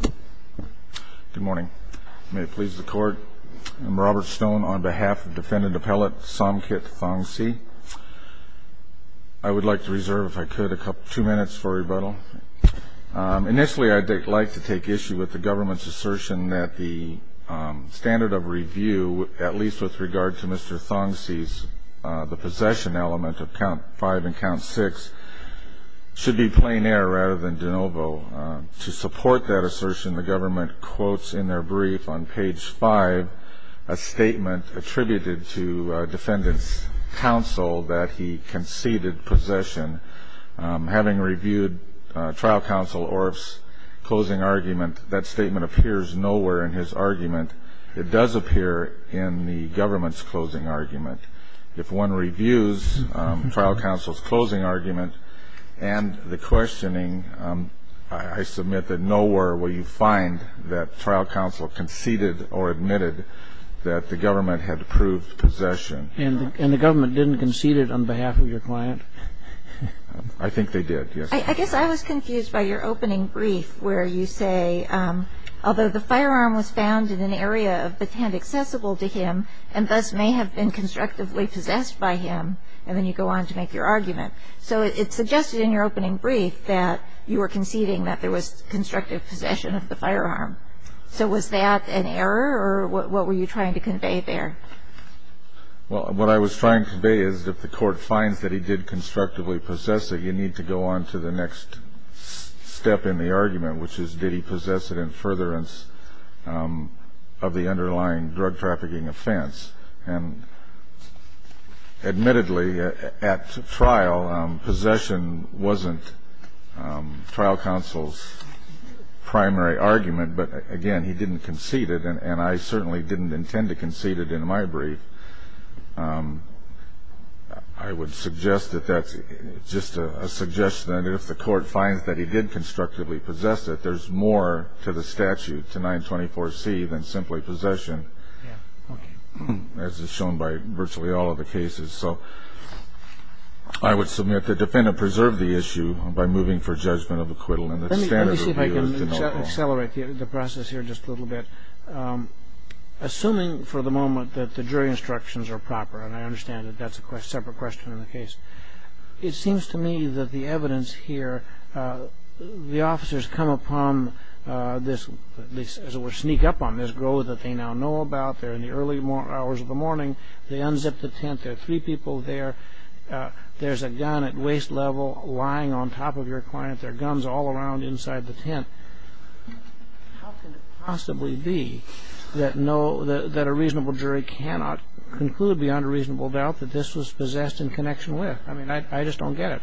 Good morning. May it please the court, I'm Robert Stone on behalf of defendant appellate Somkhit Thongsy. I would like to reserve, if I could, two minutes for rebuttal. Initially I'd like to take issue with the government's assertion that the standard of review, at least with regard to Mr. Thongsy's, the possession element of count five and count six, should be plein air rather than de novo. To support that assertion, the government quotes in their brief on page five a statement attributed to defendant's counsel that he conceded possession. Having reviewed trial counsel Orff's closing argument, that statement appears nowhere in his argument. It does appear in the government's closing argument. If one reviews trial counsel's the questioning, I submit that nowhere will you find that trial counsel conceded or admitted that the government had proved possession. And the government didn't concede it on behalf of your client? I think they did, yes. I guess I was confused by your opening brief where you say, although the firearm was found in an area of the hand accessible to him and thus may have been constructively possessed by him, and then you go on to make your argument. So it suggested in your opening brief that you were conceding that there was constructive possession of the firearm. So was that an error or what were you trying to convey there? Well, what I was trying to convey is that if the court finds that he did constructively possess it, you need to go on to the next step in the argument, which is did he possess it in furtherance of the underlying drug trafficking offense. And admittedly, at trial, possession wasn't trial counsel's primary argument. But again, he didn't concede it, and I certainly didn't intend to concede it in my brief. I would suggest that that's just a suggestion that if the court finds that he did constructively possess it, there's more to the statute, to 924C, than simply possession, as is shown by virtually all of the cases. So I would submit the defendant preserved the issue by moving for judgment of acquittal and the standard of review of the note. Let me see if I can accelerate the process here just a little bit. Assuming for the moment that the jury instructions are proper, and I understand that that's a separate question in the case, it seems to me that the evidence here, the officers come upon this, as it were, sneak up on this grove that they now know about. They're in the early hours of the morning. They unzip the tent. There are three people there. There's a gun at waist level lying on top of your client. There are guns all around inside the tent. How can it possibly be that a reasonable jury cannot conclude beyond a reasonable doubt that this was possessed in connection with? I mean, I just don't get it.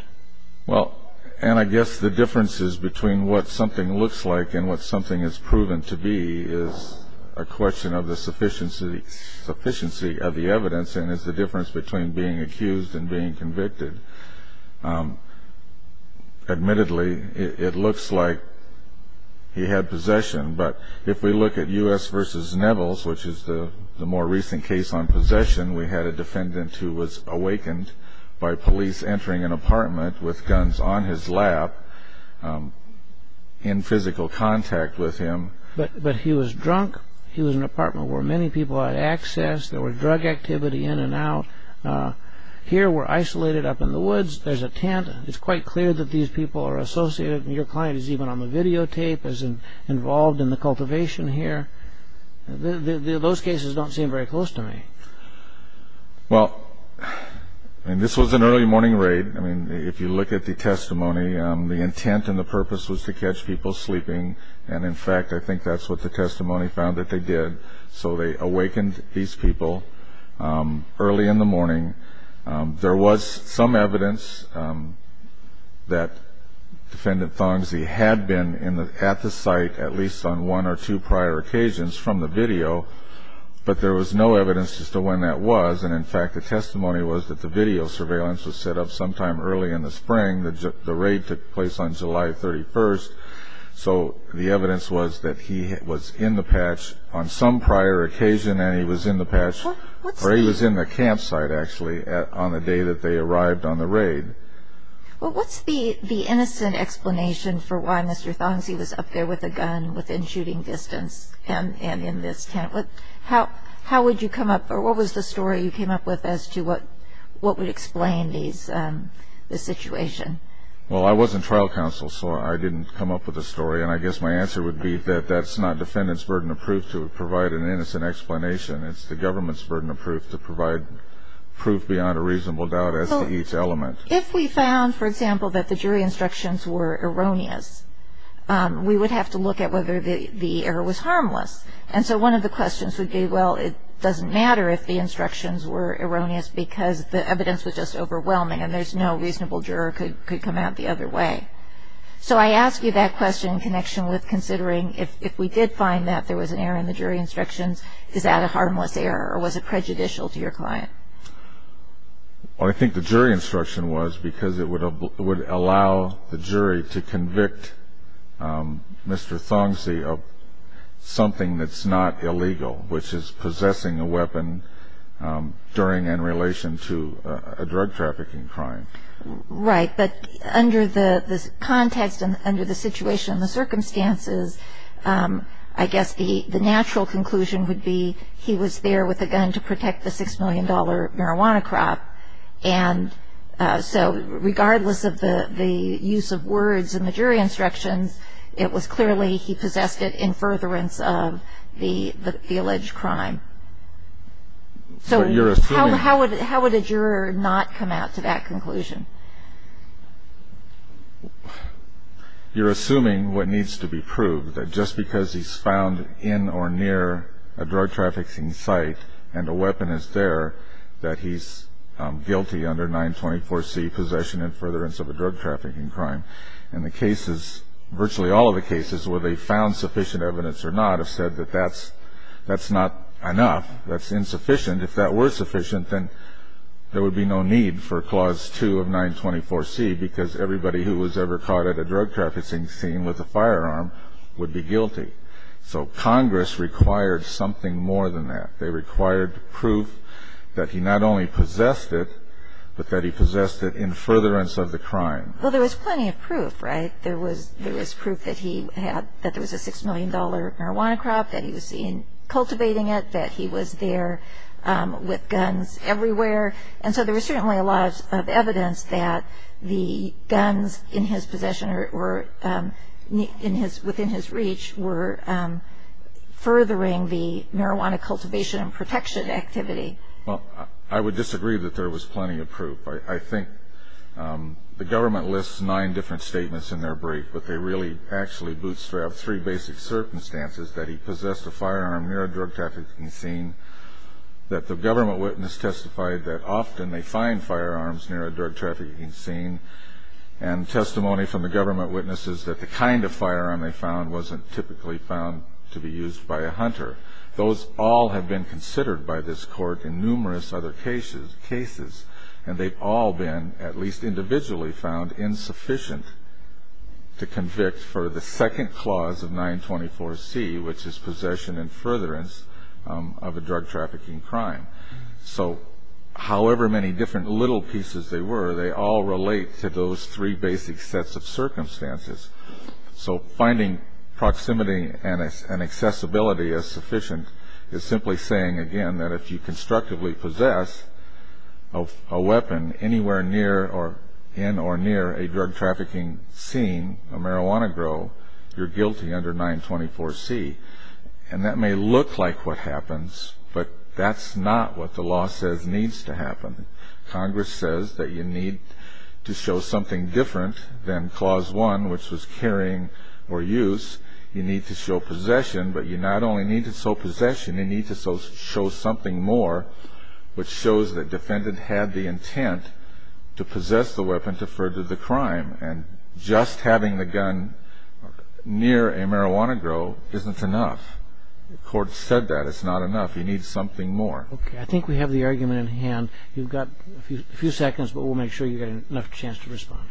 Well, and I guess the differences between what something looks like and what something is proven to be is a question of the sufficiency of the evidence and is the difference between being accused and being convicted. Admittedly, it looks like he had possession, but if we look at U.S. v. Nevels, which is the more recent case on possession, we had a defendant who was awakened by police entering an apartment with guns on his lap, in physical contact with him. But he was drunk. He was in an apartment where many people had access. There was drug activity in and out. Here, we're isolated up in the woods. There's a tent. It's quite clear that these people are associated. Your client is even on the videotape, is involved in the cultivation here. Those cases don't seem very close to me. Well, this was an early morning raid. I mean, if you look at the testimony, the intent and the purpose was to catch people sleeping, and in fact, I think that's what the testimony found that they did. So they awakened these people early in the morning. There was some evidence that Defendant Thongzee had been at the site at least on one or two prior occasions from the video, but there was no evidence as to when that was. And in fact, the testimony was that the video surveillance was set up sometime early in the spring. The raid took place on July 31st. So the evidence was that he was in the patch on some prior occasion and he was in the patch, or he was in the campsite, actually, on the day that they arrived on the raid. Well, what's the innocent explanation for why Mr. Thongzee was up there with a gun within this tent? How would you come up, or what was the story you came up with as to what would explain these, this situation? Well, I wasn't trial counsel, so I didn't come up with a story. And I guess my answer would be that that's not Defendant's burden of proof to provide an innocent explanation. It's the government's burden of proof to provide proof beyond a reasonable doubt as to each element. So if we found, for example, that the jury instructions were erroneous, we would have to look at whether the error was harmless. And so one of the questions would be, well, it doesn't matter if the instructions were erroneous because the evidence was just overwhelming and there's no reasonable juror could come out the other way. So I ask you that question in connection with considering if we did find that there was an error in the jury instructions, is that a harmless error or was it prejudicial to your client? Well, I think the jury instruction was because it would allow the jury to convict Mr. Thongzee of something that's not illegal, which is possessing a weapon during and in relation to a drug trafficking crime. Right. But under the context and under the situation and the circumstances, I guess the natural conclusion would be he was there with a gun to protect the $6 million marijuana crop. And so regardless of the use of words in the jury instructions, it was clearly a felony. He possessed it in furtherance of the alleged crime. So how would a juror not come out to that conclusion? You're assuming what needs to be proved, that just because he's found in or near a drug trafficking site and a weapon is there, that he's guilty under 924C, possession in furtherance of a drug trafficking crime. And the cases, virtually all of the cases where they found sufficient evidence or not have said that that's not enough, that's insufficient. If that were sufficient, then there would be no need for Clause 2 of 924C because everybody who was ever caught at a drug trafficking scene with a firearm would be guilty. So Congress required something more than that. They required proof that he not only possessed it, but that he possessed it in furtherance of the crime. Well, there was plenty of proof, right? There was proof that he had, that there was a $6 million marijuana crop, that he was seen cultivating it, that he was there with guns everywhere. And so there was certainly a lot of evidence that the guns in his possession or within his reach were furthering the marijuana cultivation and protection activity. Well, I would disagree that there was plenty of proof. I think the government lists nine different statements in their brief, but they really actually bootstrap three basic circumstances that he possessed a firearm near a drug trafficking scene, that the government witness testified that often they find firearms near a drug trafficking scene, and testimony from the government witnesses that the kind of firearm they found wasn't typically found to be used by a hunter. Those all have been considered by this court in numerous other cases, and they've all been at least individually found insufficient to convict for the second clause of 924C, which is possession and furtherance of a drug trafficking crime. So however many different little pieces they were, they all relate to those three basic sets of circumstances. So finding proximity and accessibility as sufficient is simply saying again that if you constructively possess a weapon anywhere near or in or near a drug trafficking scene, a marijuana grow, you're guilty under 924C. And that may look like what happens, but that's not what the law says needs to happen. Congress says that you need to show something different than clause one, which was carrying or use. You need to show possession, but you not only need to show possession, you need to show something more, which shows the defendant had the intent to possess the weapon to further the crime. And just having the gun near a marijuana grow isn't enough. The court said that. It's not enough. You need something more. I think we have the argument in hand. You've got a few seconds, but we'll make sure you get enough chance to respond.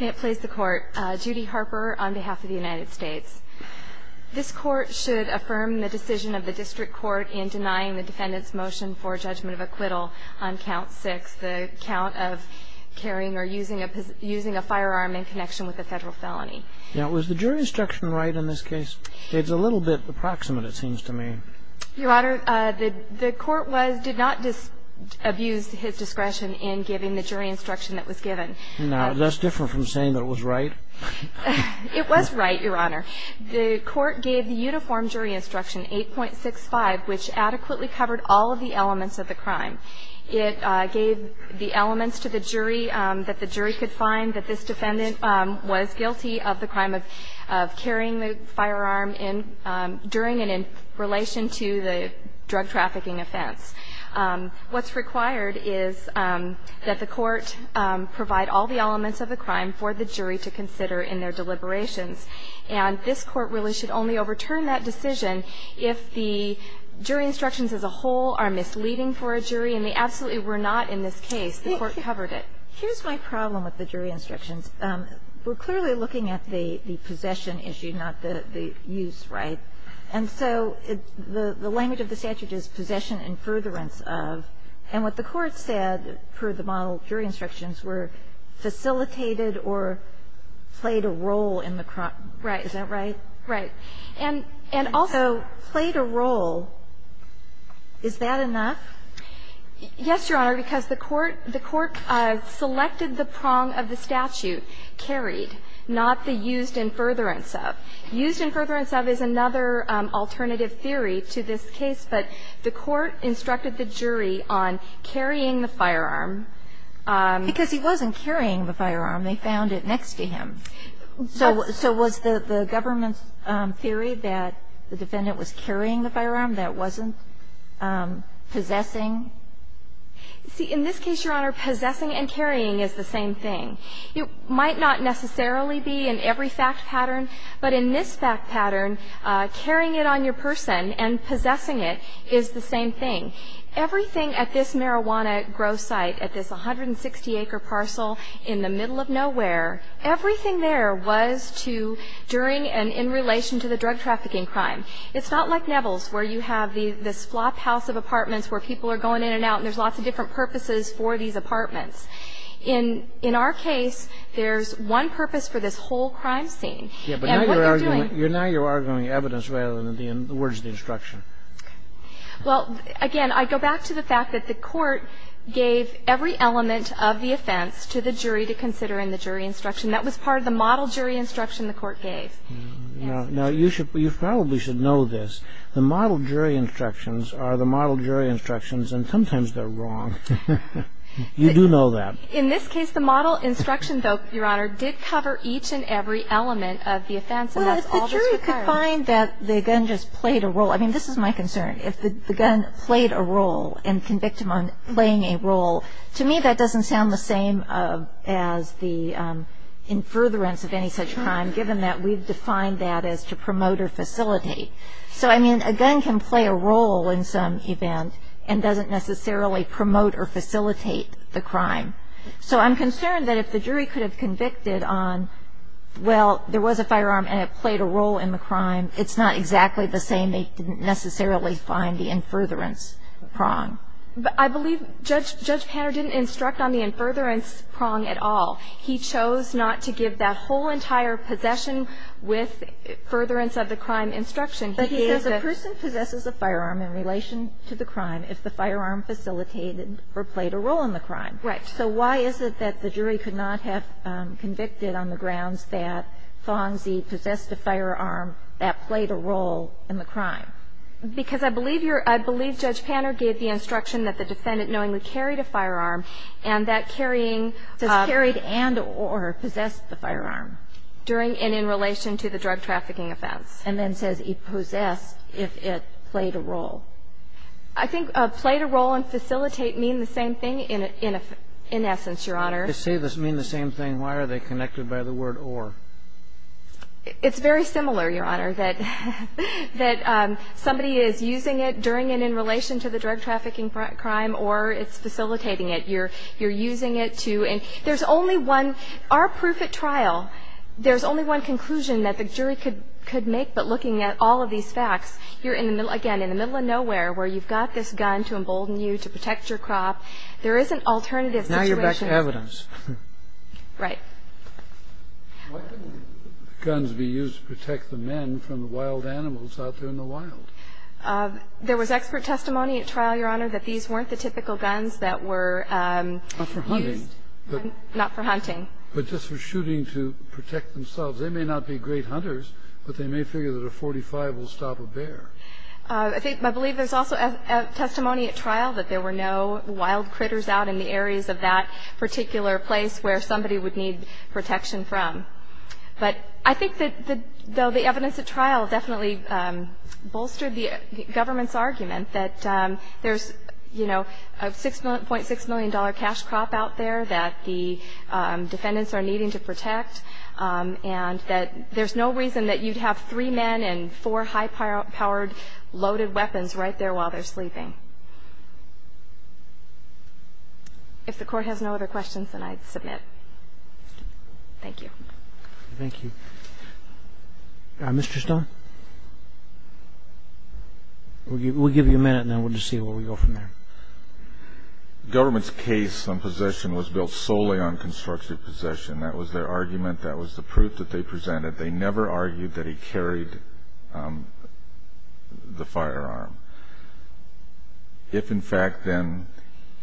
May it please the Court. Judy Harper on behalf of the United States. This Court should affirm the decision of the district court in denying the defendant's motion for judgment of acquittal on count six, the count of carrying or using a firearm in connection with a federal felony. Now, was the jury instruction right in this case? It's a little bit approximate, it seems to me. Your Honor, the court did not abuse his discretion in giving the jury instruction that was given. Now, that's different from saying that it was right. It was right, Your Honor. The court gave the uniform jury instruction, 8.65, which adequately covered all of the elements of the crime. It gave the elements to the jury that the jury could find that this defendant was guilty of the crime of carrying the firearm during and in relation to the drug trafficking offense. What's required is that the court provide all the elements of the crime for the jury to consider in their deliberations. And this court really should only overturn that decision if the jury instructions as a whole are misleading for a jury and they absolutely were not in this case. The court covered it. Here's my problem with the jury instructions. We're clearly looking at the possession issue, not the use, right? And so the language of the statute is possession and furtherance of. And what the court said for the model jury instructions were facilitated or played a role in the crime. Is that right? Right. Right. And also played a role. Is that enough? Yes, Your Honor, because the court selected the prong of the statute, carried, not the used and furtherance of. Used and furtherance of is another alternative theory to this case, but the court instructed the jury on carrying the firearm. Because he wasn't carrying the firearm. They found it next to him. So was the government's theory that the defendant was carrying the firearm, that it wasn't possessing? See, in this case, Your Honor, possessing and carrying is the same thing. It might not necessarily be in every fact pattern, but in this fact pattern, carrying it on your person and possessing it is the same thing. Everything at this marijuana growth site, at this 160-acre parcel in the middle of nowhere, everything there was to during and in relation to the drug trafficking crime. It's not like Nevels, where you have this flophouse of apartments where people are going in and out, and there's lots of different purposes for these apartments. In our case, there's one purpose for this whole crime scene. And what they're doing you're arguing evidence rather than the words of the instruction. Well, again, I go back to the fact that the court gave every element of the offense to the jury to consider in the jury instruction. That was part of the model jury instruction the court gave. Now, you probably should know this. The model jury instructions are the model jury instructions, and sometimes they're wrong. You do know that. In this case, the model instruction, though, Your Honor, did cover each and every element of the offense, and that's all that's required. Well, if the jury could find that the gun just played a role. I mean, this is my concern. If the gun played a role and convicted him on playing a role, to me, that doesn't sound the same as the in furtherance of any such crime, given that we've defined that as to promote or facilitate. So, I mean, a gun can play a role in some event and doesn't necessarily promote or facilitate the crime. So I'm concerned that if the jury could have convicted on, well, there was a firearm and it played a role in the crime, it's not exactly the same, they didn't necessarily find the in furtherance wrong. But I believe Judge Panner didn't instruct on the in furtherance wrong at all. He chose not to give that whole entire possession with furtherance of the crime instruction. But he says a person possesses a firearm in relation to the crime if the firearm facilitated or played a role in the crime. Right. So why is it that the jury could not have convicted on the grounds that Fongsy possessed a firearm that played a role in the crime? Because I believe you're, I believe Judge Panner gave the instruction that the defendant knowingly carried a firearm and that carrying. Does carried and or possess the firearm? During and in relation to the drug trafficking offense. And then says he possessed if it played a role. I think played a role and facilitate mean the same thing in essence, Your Honor. They say this mean the same thing. Why are they connected by the word or? It's very similar, Your Honor, that that somebody is using it during and in relation to the drug trafficking crime or it's facilitating it. You're, you're using it to, and there's only one, our proof at trial, there's only one conclusion that the jury could, could make. But looking at all of these facts, you're in the middle, again, in the middle of nowhere where you've got this gun to embolden you to protect your crop. There is an alternative evidence, right? Why couldn't guns be used to protect the men from the wild animals out there in the wild? There was expert testimony at trial, Your Honor, that these weren't the typical guns that were used. Not for hunting. But just for shooting to protect themselves. They may not be great hunters, but they may figure that a .45 will stop a bear. I think, I believe there's also testimony at trial that there were no wild critters out in the areas of that particular place where somebody would need protection from. But I think that though the evidence at trial definitely bolstered the government's argument that there's, you know, a $6.6 million cash crop out there that the defendants are needing to protect and that there's no reason that you'd have three men and four high-powered loaded weapons right there while they're sleeping. If the court has no other questions, then I'd submit. Thank you. Thank you. Mr. Stone? We'll give you a minute, and then we'll just see where we go from there. The government's case on possession was built solely on constructive possession. That was their argument. That was the proof that they presented. They never argued that he carried the firearm. If, in fact, then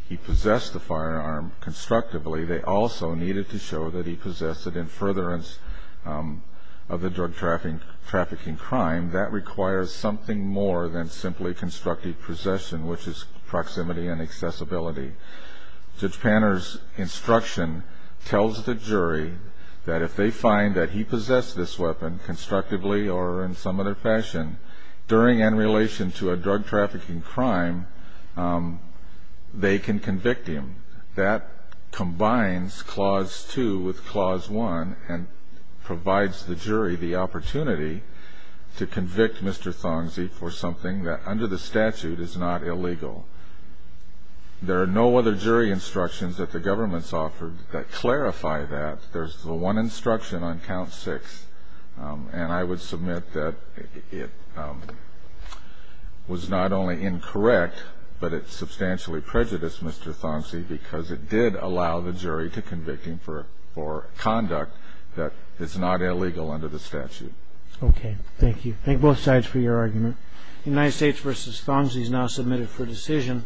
he possessed the firearm constructively, they also needed to show that he possessed it in furtherance of the drug trafficking crime. That requires something more than simply constructive possession, which is proximity and accessibility. Judge Panner's instruction tells the jury that if they find that he possessed this weapon constructively or in some other fashion during and in relation to a drug trafficking crime, they can convict him. That combines Clause 2 with Clause 1 and provides the jury the opportunity to convict Mr. Thongsy for something that, under the statute, is not illegal. There are no other jury instructions that the government's offered that clarify that. There's the one instruction on Count 6, and I would submit that it was not only incorrect, but it substantially prejudiced Mr. Thongsy because it did allow the jury to convict him for conduct that is not illegal under the statute. Okay. Thank you. Thank both sides for your argument. United States v. Thongsy is now submitted for decision.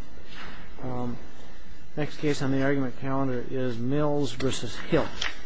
Next case on the argument calendar is Mills v. Hill.